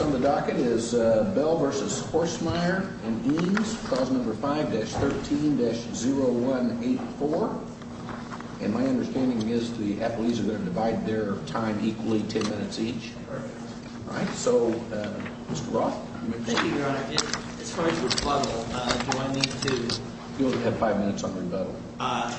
On the docket is Bell v. Horstmeyer and Eames. Clause number 5-13-0184. And my understanding is the athletes are going to divide their time equally, 10 minutes each. Perfect. Alright, so Mr. Roth. Thank you, Your Honor. As far as rebuttal, do I need to... You only have 5 minutes on rebuttal.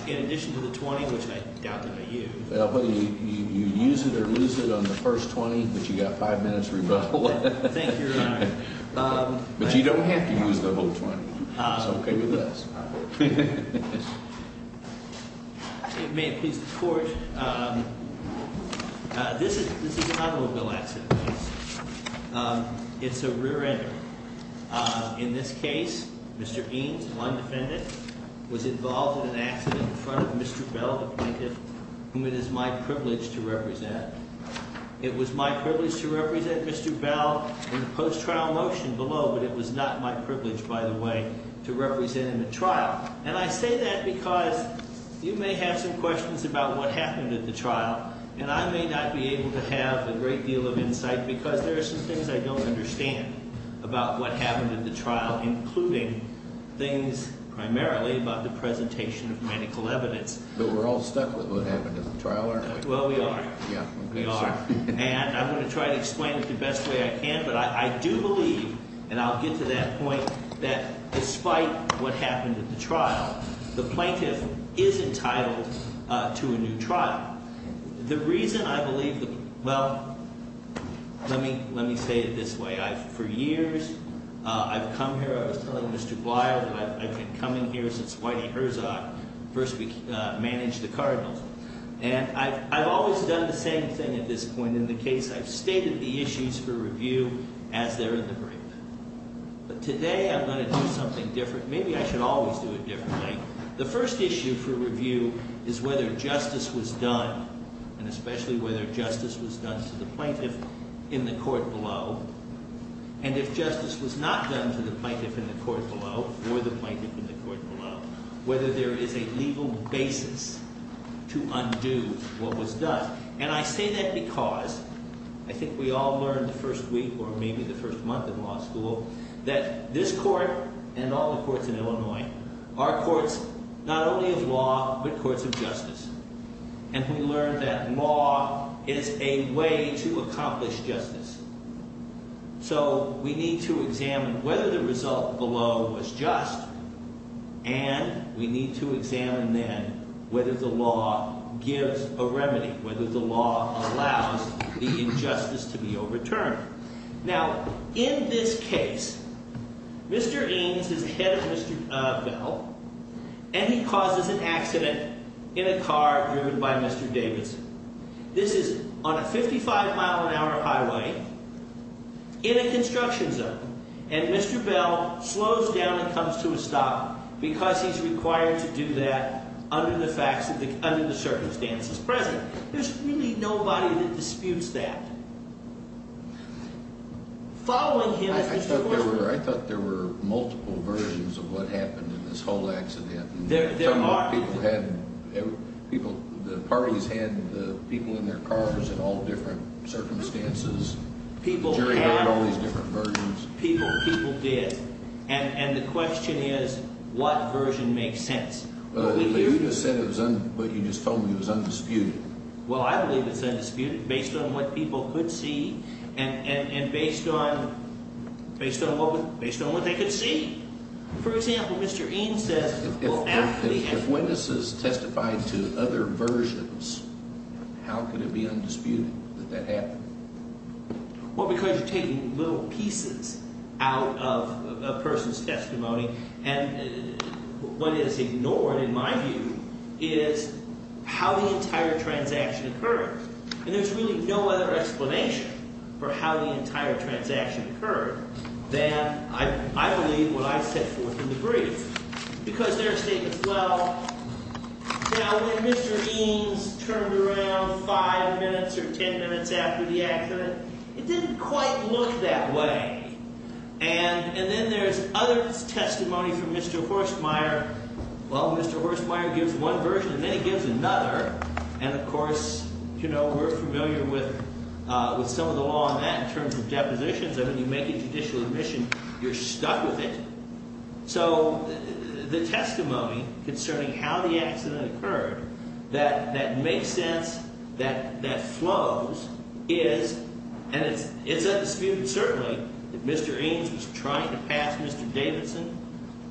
In addition to the 20, which I doubt that I use... You use it or lose it on the first 20, but you got 5 minutes rebuttal. Thank you, Your Honor. But you don't have to use the whole 20. It's okay with us. May it please the Court. This is an automobile accident. It's a rear-ender. In this case, Mr. Eames, one defendant, was involved in an accident in front of Mr. Bell, the plaintiff, whom it is my privilege to represent. It was my privilege to represent Mr. Bell in the post-trial motion below, but it was not my privilege, by the way, to represent him at trial. And I say that because you may have some questions about what happened at the trial, and I may not be able to have a great deal of insight because there are some things I don't understand about what happened at the trial, including things primarily about the presentation of medical evidence. But we're all stuck with what happened at the trial, aren't we? Well, we are. Yeah. We are. And I'm going to try to explain it the best way I can, but I do believe, and I'll get to that point, that despite what happened at the trial, the plaintiff is entitled to a new trial. The reason I believe that, well, let me say it this way. For years, I've come here. I was telling Mr. Blyer that I've been coming here since Whitey Herzog first managed the Cardinals. And I've always done the same thing at this point in the case. I've stated the issues for review as they're in the brief. But today I'm going to do something different. Maybe I should always do it differently. The first issue for review is whether justice was done, and especially whether justice was done to the plaintiff in the court below. And if justice was not done to the plaintiff in the court below or the plaintiff in the court below, whether there is a legal basis to undo what was done. And I say that because I think we all learned the first week or maybe the first month in law school that this court and all the courts in Illinois are courts not only of law but courts of justice. And we learned that law is a way to accomplish justice. So we need to examine whether the result below was just, and we need to examine then whether the law gives a remedy, whether the law allows the injustice to be overturned. Now, in this case, Mr. Eames is ahead of Mr. Bell, and he causes an accident in a car driven by Mr. Davidson. This is on a 55-mile-an-hour highway in a construction zone, and Mr. Bell slows down and comes to a stop because he's required to do that under the facts, under the circumstances present. There's really nobody that disputes that. Following him as Mr. Wilson. I thought there were multiple versions of what happened in this whole accident. The parties had the people in their cars in all different circumstances. The jury heard all these different versions. People did. And the question is what version makes sense. But you just told me it was undisputed. Well, I believe it's undisputed based on what people could see and based on what they could see. For example, Mr. Eames says, well, after the accident. If witnesses testified to other versions, how could it be undisputed that that happened? Well, because you're taking little pieces out of a person's testimony. And what is ignored, in my view, is how the entire transaction occurred. And there's really no other explanation for how the entire transaction occurred than, I believe, what I set forth in the brief. Because there are statements, well, when Mr. Eames turned around five minutes or ten minutes after the accident, it didn't quite look that way. And then there's other testimony from Mr. Horstmeyer. Well, Mr. Horstmeyer gives one version and then he gives another. And, of course, we're familiar with some of the law on that in terms of depositions. When you make a judicial admission, you're stuck with it. So the testimony concerning how the accident occurred that makes sense, that flows, is, and it's undisputed, certainly, that Mr. Eames was trying to pass Mr. Davidson,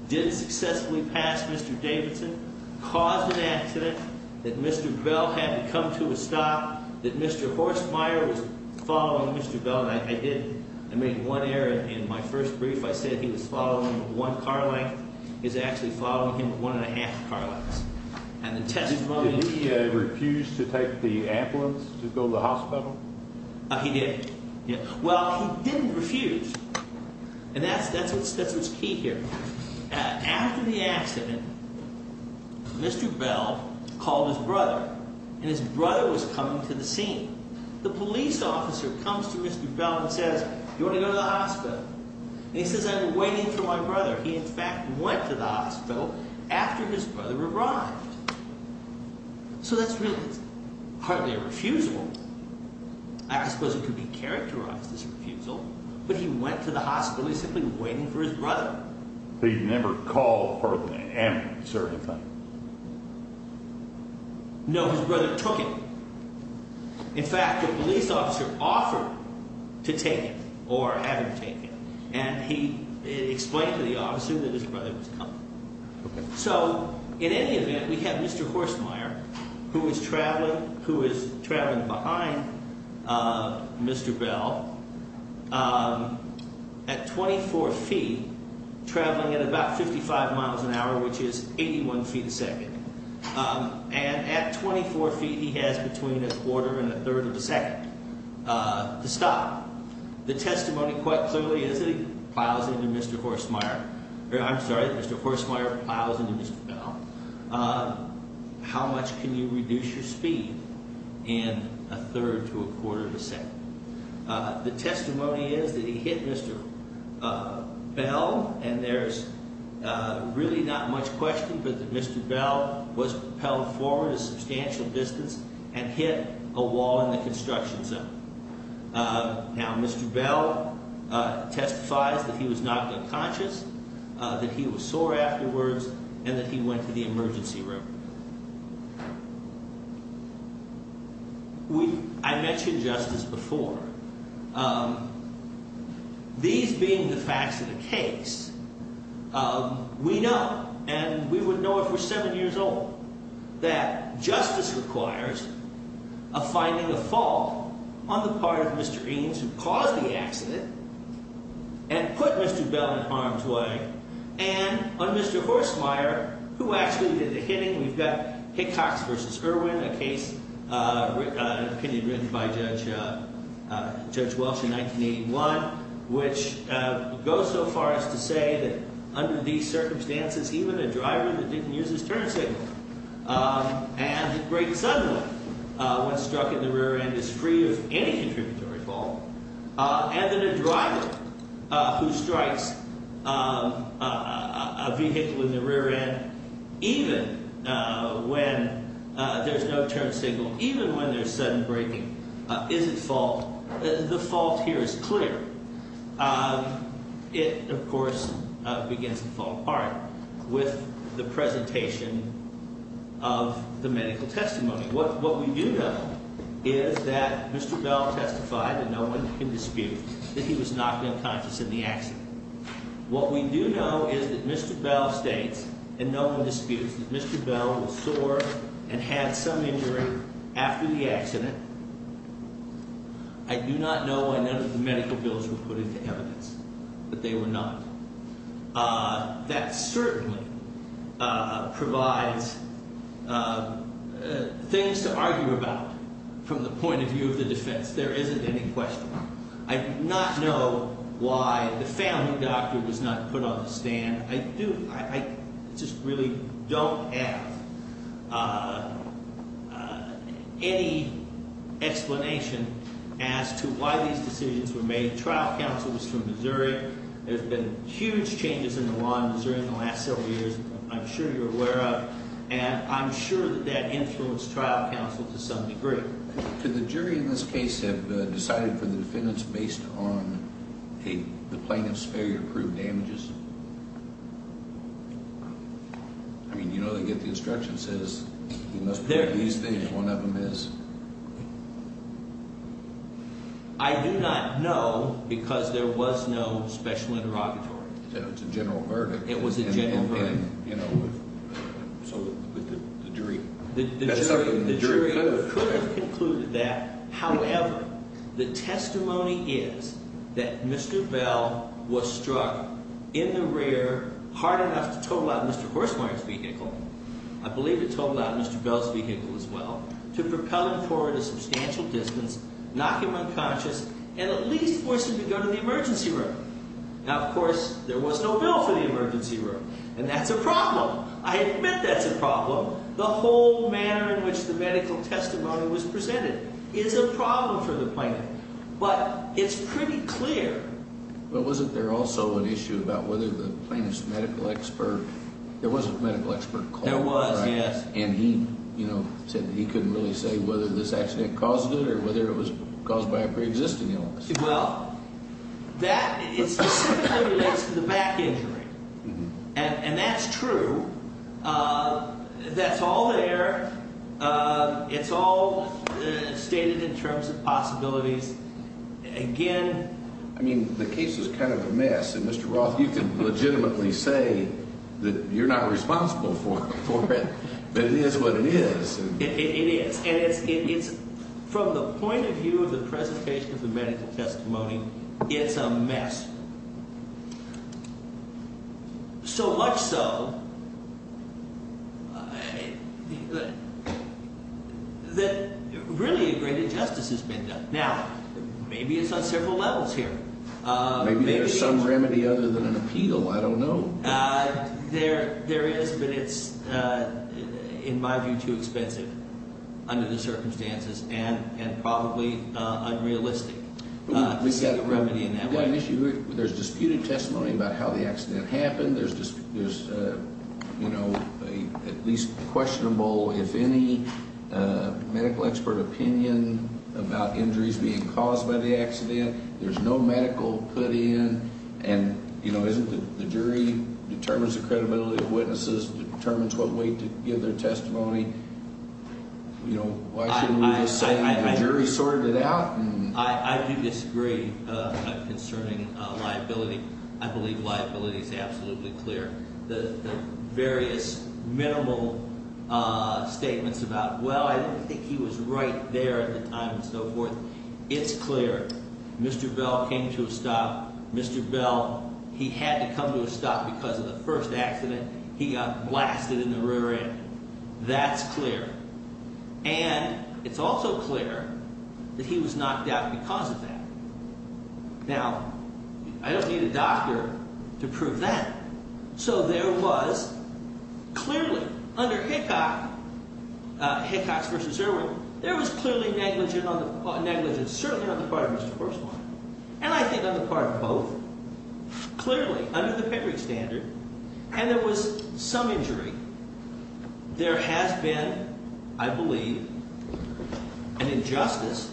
did successfully pass Mr. Davidson, caused an accident, that Mr. Bell had to come to a stop, that Mr. Horstmeyer was following Mr. Bell. And I did, I made one error in my first brief. I said he was following one car length. He was actually following him one and a half car lengths. And the testimony... Did he refuse to take the ambulance to go to the hospital? He did. Well, he didn't refuse. And that's what's key here. After the accident, Mr. Bell called his brother. And his brother was coming to the scene. The police officer comes to Mr. Bell and says, do you want to go to the hospital? And he says, I've been waiting for my brother. He, in fact, went to the hospital after his brother arrived. So that's really hardly a refusal. I suppose it could be characterized as a refusal, but he went to the hospital. He was simply waiting for his brother. So he never called hardly an ambulance or anything? No, his brother took him. In fact, the police officer offered to take him or have him take him. And he explained to the officer that his brother was coming. So, in any event, we have Mr. Horstmeyer, who is traveling behind Mr. Bell at 24 feet, traveling at about 55 miles an hour, which is 81 feet a second. And at 24 feet, he has between a quarter and a third of a second to stop. The testimony quite clearly is that he plows into Mr. Horstmeyer. I'm sorry, Mr. Horstmeyer plows into Mr. Bell. How much can you reduce your speed in a third to a quarter of a second? The testimony is that he hit Mr. Bell. And there's really not much question but that Mr. Bell was propelled forward a substantial distance and hit a wall in the construction zone. Now, Mr. Bell testifies that he was knocked unconscious, that he was sore afterwards, and that he went to the emergency room. I mentioned justice before. These being the facts of the case, we know, and we would know if we're seven years old, that justice requires a finding of fault on the part of Mr. Eames, who caused the accident, and put Mr. Bell in harm's way, and on Mr. Horstmeyer, who actually did the hitting. We've got Hickox v. Irwin, a case opinion written by Judge Welch in 1981, which goes so far as to say that under these circumstances, even a driver that didn't use his turn signal and breaks suddenly when struck in the rear end is free of any contributory fault. And that a driver who strikes a vehicle in the rear end, even when there's no turn signal, even when there's sudden braking, is at fault. The fault here is clear. It, of course, begins to fall apart with the presentation of the medical testimony. What we do know is that Mr. Bell testified, and no one can dispute, that he was not unconscious in the accident. What we do know is that Mr. Bell states, and no one disputes, that Mr. Bell was sore and had some injury after the accident. I do not know why none of the medical bills were put into evidence, but they were not. That certainly provides things to argue about from the point of view of the defense. There isn't any question. I do not know why the family doctor was not put on the stand. I just really don't have any explanation as to why these decisions were made. The trial counsel was from Missouri. There's been huge changes in the law in Missouri in the last several years, I'm sure you're aware of. And I'm sure that that influenced trial counsel to some degree. Could the jury in this case have decided for the defendants based on the plaintiff's failure to prove damages? I mean, you know they get the instructions, it says you must prove these things, one of them is. I do not know because there was no special interrogatory. It was a general verdict. It was a general verdict. So the jury could have concluded that. However, the testimony is that Mr. Bell was struck in the rear hard enough to total out Mr. Horsemire's vehicle, I believe it totaled out Mr. Bell's vehicle as well, to propel him forward a substantial distance, knock him unconscious, and at least force him to go to the emergency room. Now, of course, there was no bill for the emergency room. And that's a problem. I admit that's a problem. The whole manner in which the medical testimony was presented is a problem for the plaintiff. But it's pretty clear. But wasn't there also an issue about whether the plaintiff's medical expert, there was a medical expert called, right? There was, yes. And he, you know, said that he couldn't really say whether this accident caused it or whether it was caused by a pre-existing illness. Well, that specifically relates to the back injury. And that's true. That's all there. It's all stated in terms of possibilities. Again. I mean, the case is kind of a mess. And, Mr. Roth, you can legitimately say that you're not responsible for it. But it is what it is. It is. And it's from the point of view of the presentation of the medical testimony, it's a mess. So much so that really a great injustice has been done. Now, maybe it's on several levels here. Maybe there's some remedy other than an appeal. I don't know. There is. But it's, in my view, too expensive under the circumstances and probably unrealistic. We've got a remedy in that way. There's disputed testimony about how the accident happened. There's at least questionable, if any, medical expert opinion about injuries being caused by the accident. There's no medical put in. And the jury determines the credibility of witnesses, determines what weight to give their testimony. Why shouldn't we just say the jury sorted it out? I do disagree concerning liability. I believe liability is absolutely clear. The various minimal statements about, well, I didn't think he was right there at the time and so forth, it's clear. Mr. Bell came to a stop. Mr. Bell, he had to come to a stop because of the first accident. He got blasted in the rear end. That's clear. And it's also clear that he was knocked out because of that. Now, I don't need a doctor to prove that. So there was clearly, under Hickox versus Irwin, there was clearly negligence, certainly on the part of Mr. Forsman. And I think on the part of both. Clearly, under the Pickering standard, and there was some injury, there has been, I believe, an injustice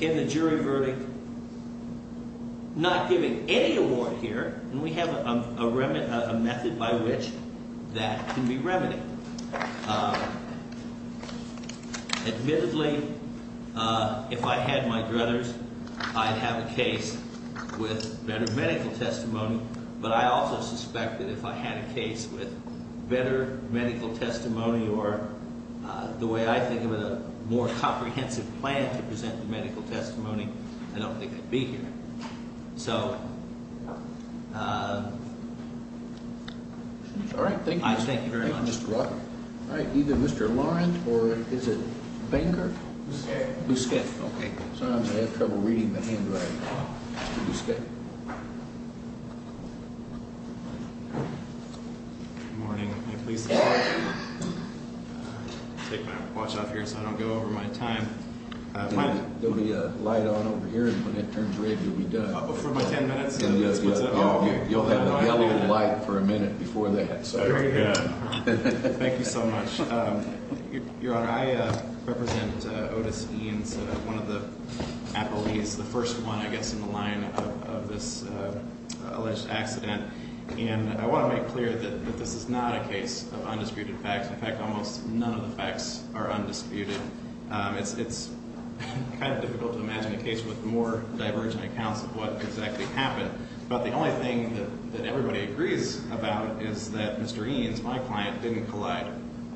in the jury verdict. Not giving any award here, and we have a method by which that can be remedied. Admittedly, if I had my druthers, I'd have a case with better medical testimony. But I also suspect that if I had a case with better medical testimony or the way I think of it, a more comprehensive plan to present the medical testimony, I don't think I'd be here. So... All right. Thank you. Thank you very much. All right. Either Mr. Lawrence or is it Banger? Bousquet. Bousquet. Okay. Sometimes I have trouble reading the handwriting. Bousquet. Good morning. May I please take my watch off here so I don't go over my time? There'll be a light on over here, and when it turns red, you'll be done. Oh, for my ten minutes? You'll have a yellow light for a minute before that. Very good. Thank you so much. Your Honor, I represent Otis Eanes, one of the appellees, the first one, I guess, in the line of this alleged accident. And I want to make clear that this is not a case of undisputed facts. In fact, almost none of the facts are undisputed. It's kind of difficult to imagine a case with more divergent accounts of what exactly happened. But the only thing that everybody agrees about is that Mr. Eanes, my client, didn't collide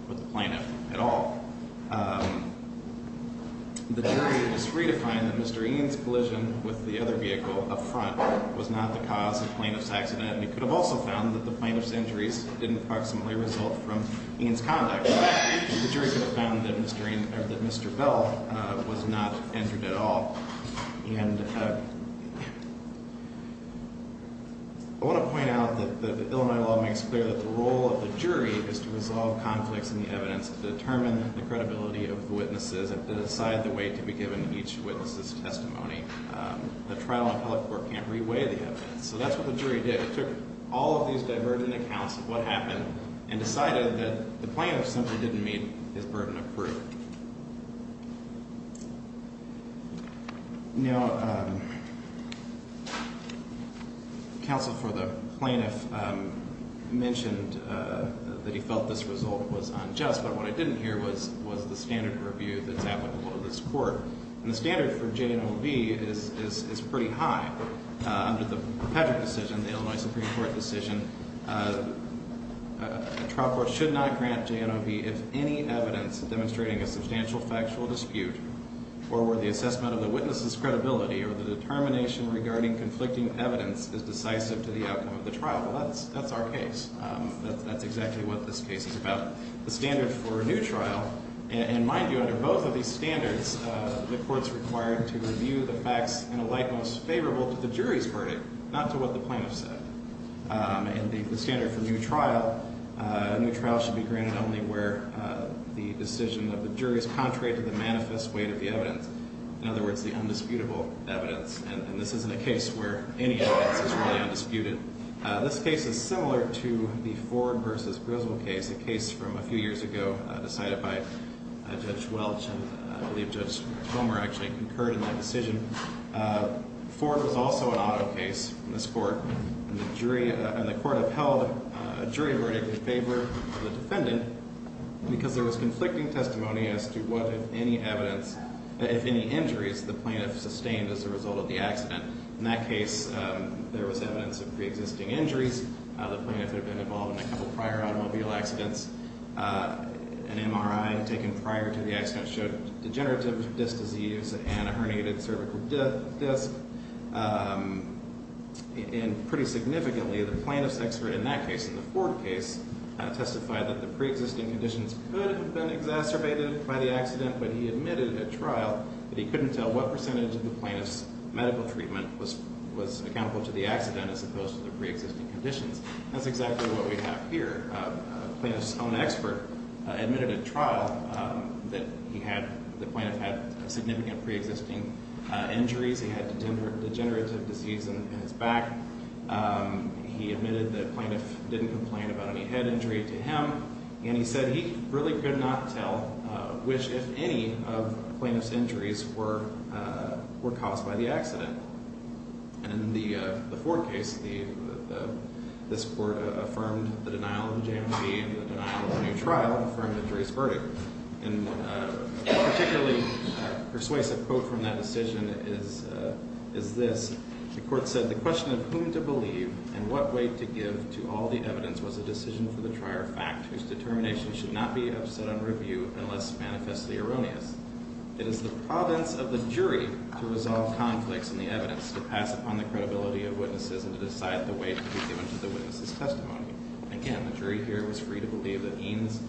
with the plaintiff at all. The jury was free to find that Mr. Eanes' collision with the other vehicle up front was not the cause of the plaintiff's accident. We could have also found that the plaintiff's injuries didn't approximately result from Eanes' conduct. In fact, the jury could have found that Mr. Bell was not injured at all. And I want to point out that the Illinois law makes clear that the role of the jury is to resolve conflicts in the evidence, determine the credibility of the witnesses, and decide the way to be given each witness's testimony. The trial and public court can't reweigh the evidence. So that's what the jury did. It took all of these divergent accounts of what happened and decided that the plaintiff simply didn't meet his burden of proof. Now, counsel for the plaintiff mentioned that he felt this result was unjust, but what I didn't hear was the standard review that's applicable to this court. And the standard for J&OB is pretty high. Under the Patrick decision, the Illinois Supreme Court decision, a trial court should not grant J&OB if any evidence demonstrating a substantial factual dispute or where the assessment of the witness's credibility or the determination regarding conflicting evidence is decisive to the outcome of the trial. Well, that's our case. That's exactly what this case is about. The standard for a new trial, and mind you, under both of these standards, the court's required to review the facts in a light most favorable to the jury's verdict, not to what the plaintiff said. And the standard for a new trial, a new trial should be granted only where the decision of the jury is contrary to the manifest weight of the evidence, in other words, the undisputable evidence, and this isn't a case where any evidence is really undisputed. This case is similar to the Ford v. Griswold case, a case from a few years ago decided by Judge Welch, and I believe Judge Homer actually concurred in that decision. Ford was also an auto case in this court, and the court upheld a jury verdict in favor of the defendant because there was conflicting testimony as to what, if any, evidence, if any injuries, the plaintiff sustained as a result of the accident. In that case, there was evidence of preexisting injuries. The plaintiff had been involved in a couple prior automobile accidents. An MRI taken prior to the accident showed degenerative disc disease and a herniated cervical disc. And pretty significantly, the plaintiff's expert in that case, in the Ford case, testified that the preexisting conditions could have been exacerbated by the accident, but he admitted at trial that he couldn't tell what percentage of the plaintiff's medical treatment was accountable to the accident as opposed to the preexisting conditions. That's exactly what we have here. The plaintiff's own expert admitted at trial that the plaintiff had significant preexisting injuries. He had degenerative disease in his back. He admitted that the plaintiff didn't complain about any head injury to him, and he said he really could not tell which, if any, of the plaintiff's injuries were caused by the accident. And in the Ford case, this court affirmed the denial of the JMC and the denial of a new trial, affirmed the jury's verdict. And a particularly persuasive quote from that decision is this. The court said, The question of whom to believe and what weight to give to all the evidence was a decision for the trier of fact, whose determination should not be upset on review unless manifestly erroneous. It is the province of the jury to resolve conflicts in the evidence, to pass upon the credibility of witnesses, and to decide the weight to be given to the witness's testimony. Again, the jury here was free to believe that Eames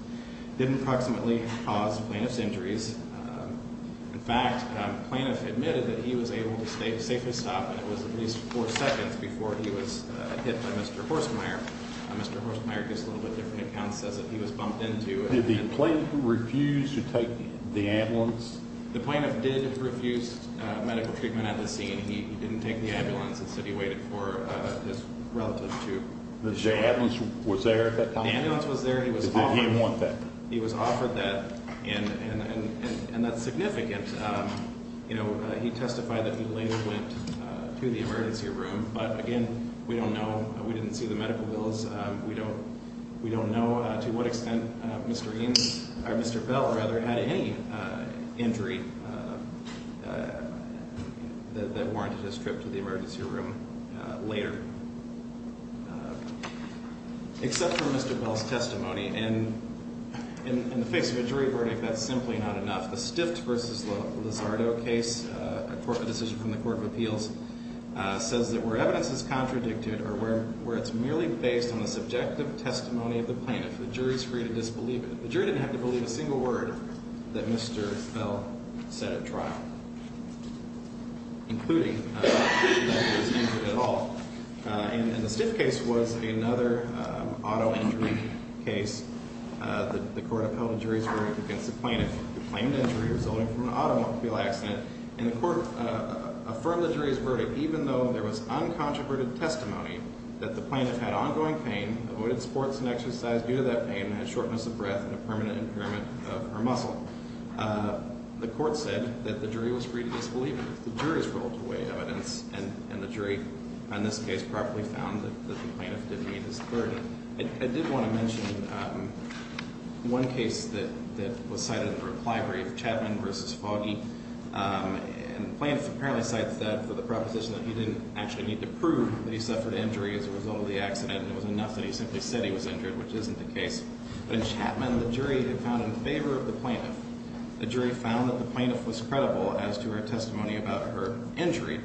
didn't proximately cause the plaintiff's injuries. In fact, the plaintiff admitted that he was able to safely stop, and it was at least four seconds before he was hit by Mr. Horstmeyer. Mr. Horstmeyer gives a little bit different account and says that he was bumped into. Did the plaintiff refuse to take the ambulance? The plaintiff did refuse medical treatment at the scene. He didn't take the ambulance. Instead, he waited for his relative to show up. The ambulance was there at that time? The ambulance was there. Did he want that? He was offered that, and that's significant. You know, he testified that he later went to the emergency room, but again, we don't know. We didn't see the medical bills. We don't know to what extent Mr. Eames, or Mr. Bell, rather, had any injury that warranted his trip to the emergency room later. Except for Mr. Bell's testimony, and in the face of a jury verdict, that's simply not enough. The Stift v. Lozardo case, a decision from the Court of Appeals, says that where evidence is contradicted or where it's merely based on the subjective testimony of the plaintiff, the jury is free to disbelieve it. The jury didn't have to believe a single word that Mr. Bell said at trial, including that he was injured at all. And the Stift case was another auto injury case. The Court of Appeals and juries were against the plaintiff who claimed injury resulting from an automobile accident, and the Court affirmed the jury's verdict even though there was uncontroverted testimony that the plaintiff had ongoing pain, avoided sports and exercise due to that pain, and had shortness of breath and a permanent impairment of her muscle. The Court said that the jury was free to disbelieve it. The jury was free to weigh evidence, and the jury, in this case, properly found that the plaintiff did meet his verdict. I did want to mention one case that was cited in the reply brief, Chapman v. Foggy. And the plaintiff apparently cites that for the proposition that he didn't actually need to prove that he suffered injury as a result of the accident and it was enough that he simply said he was injured, which isn't the case. But in Chapman, the jury had found in favor of the plaintiff. The jury found that the plaintiff was credible as to her testimony about her injury,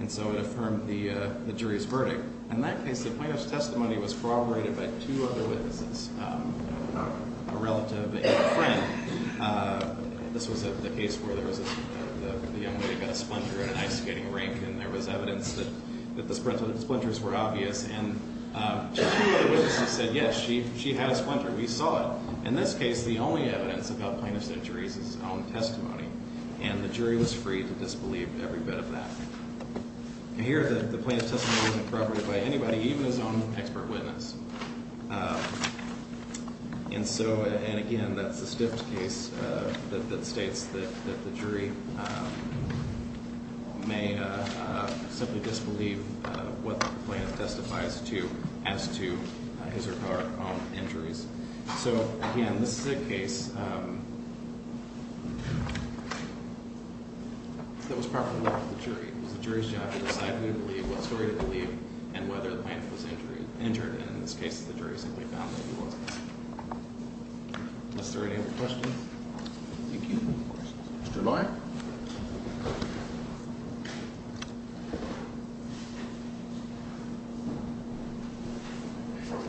and so it affirmed the jury's verdict. In that case, the plaintiff's testimony was corroborated by two other witnesses, a relative and a friend. This was the case where the young lady got a splinter in an ice-skating rink and there was evidence that the splinters were obvious, and two other witnesses said, yes, she had a splinter. We saw it. In this case, the only evidence about plaintiff's injury is his own testimony, and the jury was free to disbelieve every bit of that. Here, the plaintiff's testimony wasn't corroborated by anybody, even his own expert witness. And so, and again, that's a stiff case that states that the jury may simply disbelieve what the plaintiff testifies to as to his or her own injuries. So, again, this is a case that was properly left to the jury. It was the jury's job to decide who to believe, what story to believe, and whether the plaintiff was injured. And in this case, the jury simply found that he wasn't. Is there any other questions? Thank you. Mr. Loy? Thank you, Your Honor.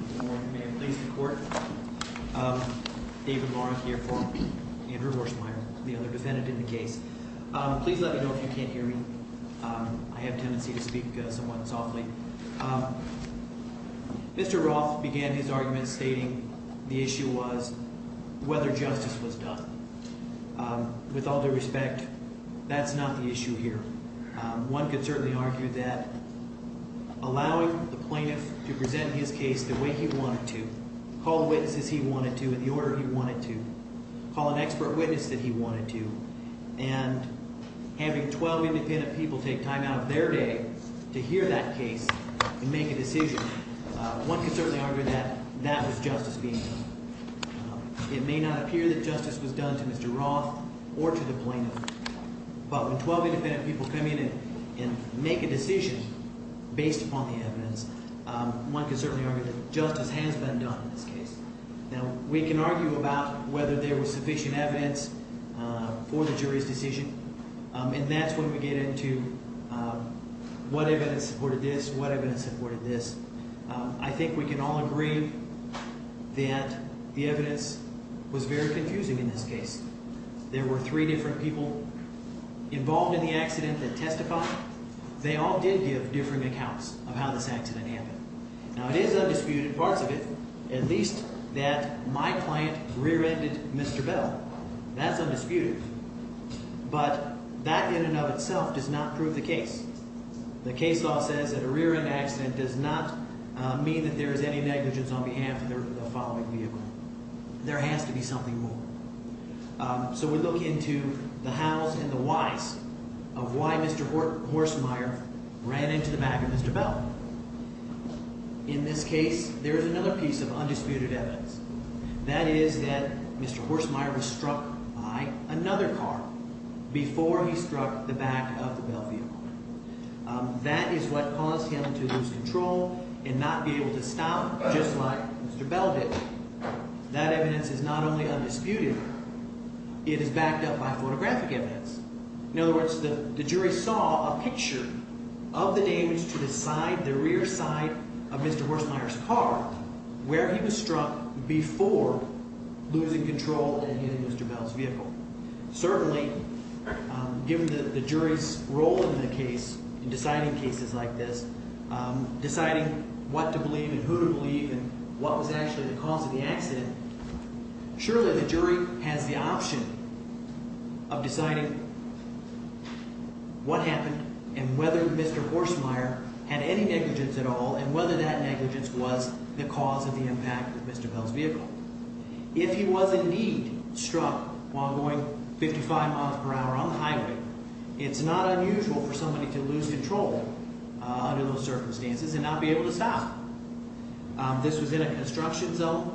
Good morning. May it please the Court. David Lawrence here for Andrew Horsmeyer, the other defendant in the case. Please let me know if you can't hear me. I have a tendency to speak somewhat softly. Mr. Roth began his argument stating the issue was whether justice was done. With all due respect, that's not the issue here. One could certainly argue that allowing the plaintiff to present his case the way he wanted to, call witnesses he wanted to in the order he wanted to, call an expert witness that he wanted to, and having 12 independent people take time out of their day to hear that case and make a decision, one could certainly argue that that was justice being done. It may not appear that justice was done to Mr. Roth or to the plaintiff, but when 12 independent people come in and make a decision based upon the evidence, one could certainly argue that justice has been done in this case. Now, we can argue about whether there was sufficient evidence for the jury's decision, and that's when we get into what evidence supported this, what evidence supported this. I think we can all agree that the evidence was very confusing in this case. There were three different people involved in the accident that testified. They all did give different accounts of how this accident happened. Now, it is undisputed, parts of it, at least that my client rear-ended Mr. Bell. That's undisputed, but that in and of itself does not prove the case. The case law says that a rear-end accident does not mean that there is any negligence on behalf of the following vehicle. There has to be something more. So we look into the hows and the whys of why Mr. Horsmeyer ran into the back of Mr. Bell. In this case, there is another piece of undisputed evidence. That is that Mr. Horsmeyer was struck by another car before he struck the back of the Bell vehicle. That is what caused him to lose control and not be able to stop just like Mr. Bell did. That evidence is not only undisputed, it is backed up by photographic evidence. In other words, the jury saw a picture of the damage to the side, the rear side of Mr. Horsmeyer's car where he was struck before losing control and hitting Mr. Bell's vehicle. Certainly, given the jury's role in the case, in deciding cases like this, deciding what to believe and who to believe and what was actually the cause of the accident, surely the jury has the option of deciding what happened and whether Mr. Horsmeyer had any negligence at all and whether that negligence was the cause of the impact of Mr. Bell's vehicle. If he was indeed struck while going 55 miles per hour on the highway, it's not unusual for somebody to lose control under those circumstances and not be able to stop. This was in a construction zone.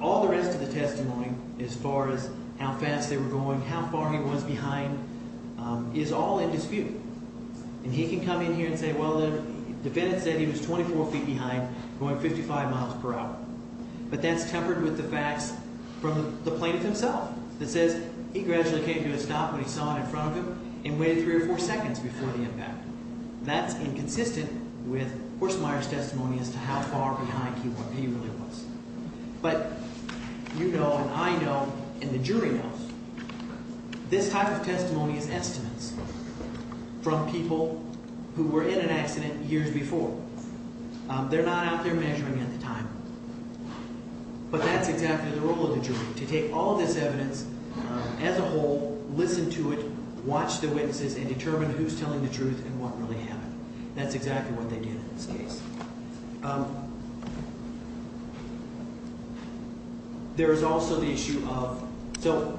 All the rest of the testimony as far as how fast they were going, how far he was behind, is all in dispute. And he can come in here and say, well, the defendant said he was 24 feet behind going 55 miles per hour. But that's tempered with the facts from the plaintiff himself that says he gradually came to a stop when he saw it in front of him and waited three or four seconds before the impact. That's inconsistent with Horsmeyer's testimony as to how far behind he really was. But you know and I know and the jury knows this type of testimony is estimates from people who were in an accident years before. They're not out there measuring at the time. But that's exactly the role of the jury, to take all this evidence as a whole, listen to it, watch the witnesses, and determine who's telling the truth and what really happened. That's exactly what they did in this case. There is also the issue of – so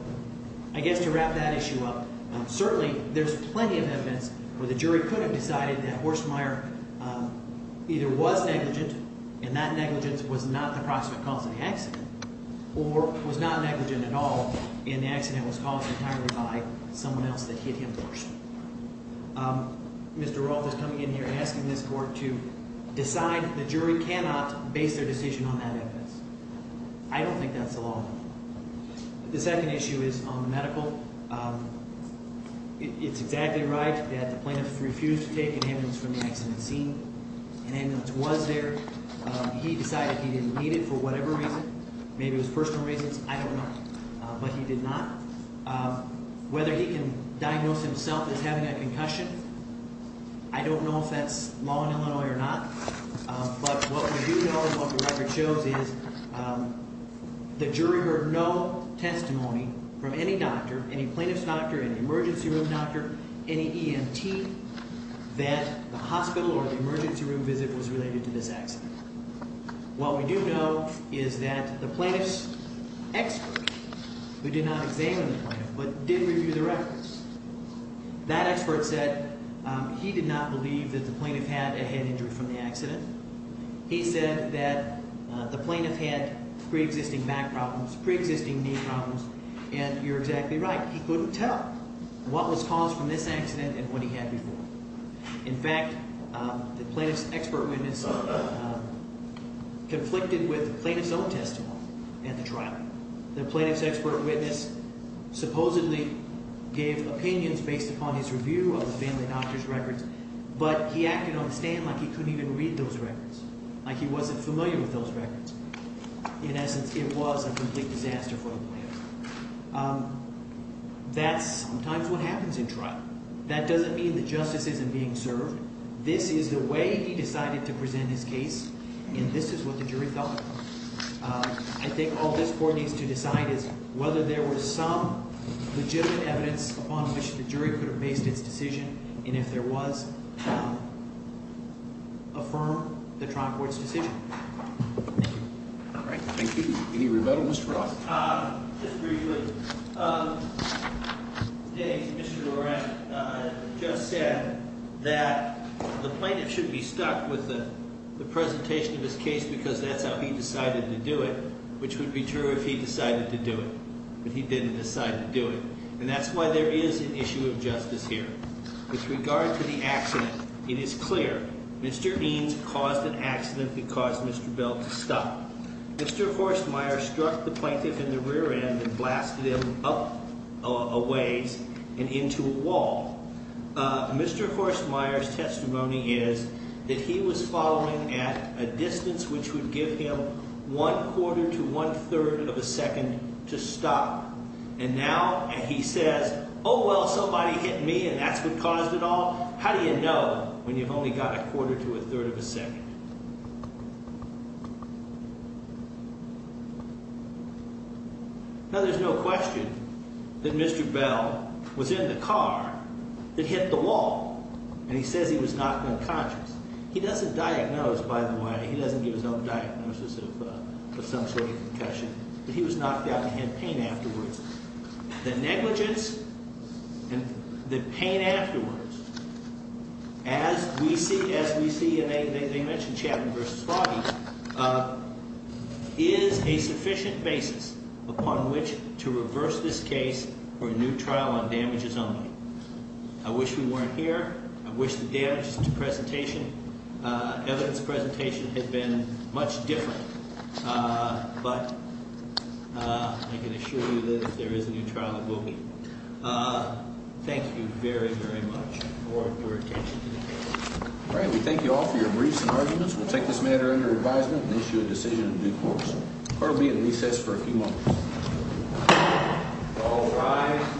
I guess to wrap that issue up, certainly there's plenty of evidence where the jury could have decided that Horsmeyer either was negligent and that negligence was not the cause of the accident or was not negligent at all and the accident was caused entirely by someone else that hit him first. Mr. Roth is coming in here and asking this court to decide the jury cannot base their decision on that evidence. I don't think that's the law. The second issue is medical. It's exactly right that the plaintiff refused to take an ambulance from the accident scene. An ambulance was there. He decided he didn't need it for whatever reason. Maybe it was personal reasons. I don't know. But he did not. Whether he can diagnose himself as having a concussion, I don't know if that's law in Illinois or not. But what we do know and what the record shows is the jury heard no testimony from any doctor, any plaintiff's doctor, any emergency room doctor, any EMT, that the hospital or the emergency room visit was related to this accident. What we do know is that the plaintiff's expert, who did not examine the plaintiff but did review the records, that expert said he did not believe that the plaintiff had a head injury from the accident. He said that the plaintiff had preexisting back problems, preexisting knee problems, and you're exactly right. He couldn't tell what was caused from this accident and what he had before. In fact, the plaintiff's expert witness conflicted with the plaintiff's own testimony at the trial. The plaintiff's expert witness supposedly gave opinions based upon his review of the family doctor's records, but he acted on the stand like he couldn't even read those records, like he wasn't familiar with those records. In essence, it was a complete disaster for the plaintiff. That's sometimes what happens in trial. That doesn't mean that justice isn't being served. This is the way he decided to present his case, and this is what the jury felt. I think all this court needs to decide is whether there was some legitimate evidence upon which the jury could have based its decision, and if there was, affirm the trial court's decision. Thank you. All right. Thank you. Any rebuttal, Mr. Ross? Just briefly. Mr. Doran just said that the plaintiff should be stuck with the presentation of his case because that's how he decided to do it, which would be true if he decided to do it, but he didn't decide to do it. And that's why there is an issue of justice here. With regard to the accident, it is clear Mr. Eames caused an accident that caused Mr. Bell to stop. Mr. Horstmeyer struck the plaintiff in the rear end and blasted him up a ways and into a wall. Mr. Horstmeyer's testimony is that he was following at a distance which would give him one quarter to one third of a second to stop. And now he says, oh, well, somebody hit me, and that's what caused it all. How do you know when you've only got a quarter to a third of a second? Now, there's no question that Mr. Bell was in the car that hit the wall, and he says he was knocked unconscious. He doesn't diagnose, by the way. He doesn't give his own diagnosis of some sort of concussion, but he was knocked out and had pain afterwards. The negligence and the pain afterwards, as we see, as we see in a, they mention Chapman versus Foggy, is a sufficient basis upon which to reverse this case for a new trial on damages only. I wish we weren't here. I wish the damages presentation, evidence presentation had been much different. But I can assure you that if there is a new trial, it will be. Thank you very, very much for your attention today. All right. We thank you all for your briefs and arguments. We'll take this matter under advisement and issue a decision in due course. Court will be at recess for a few moments. All rise.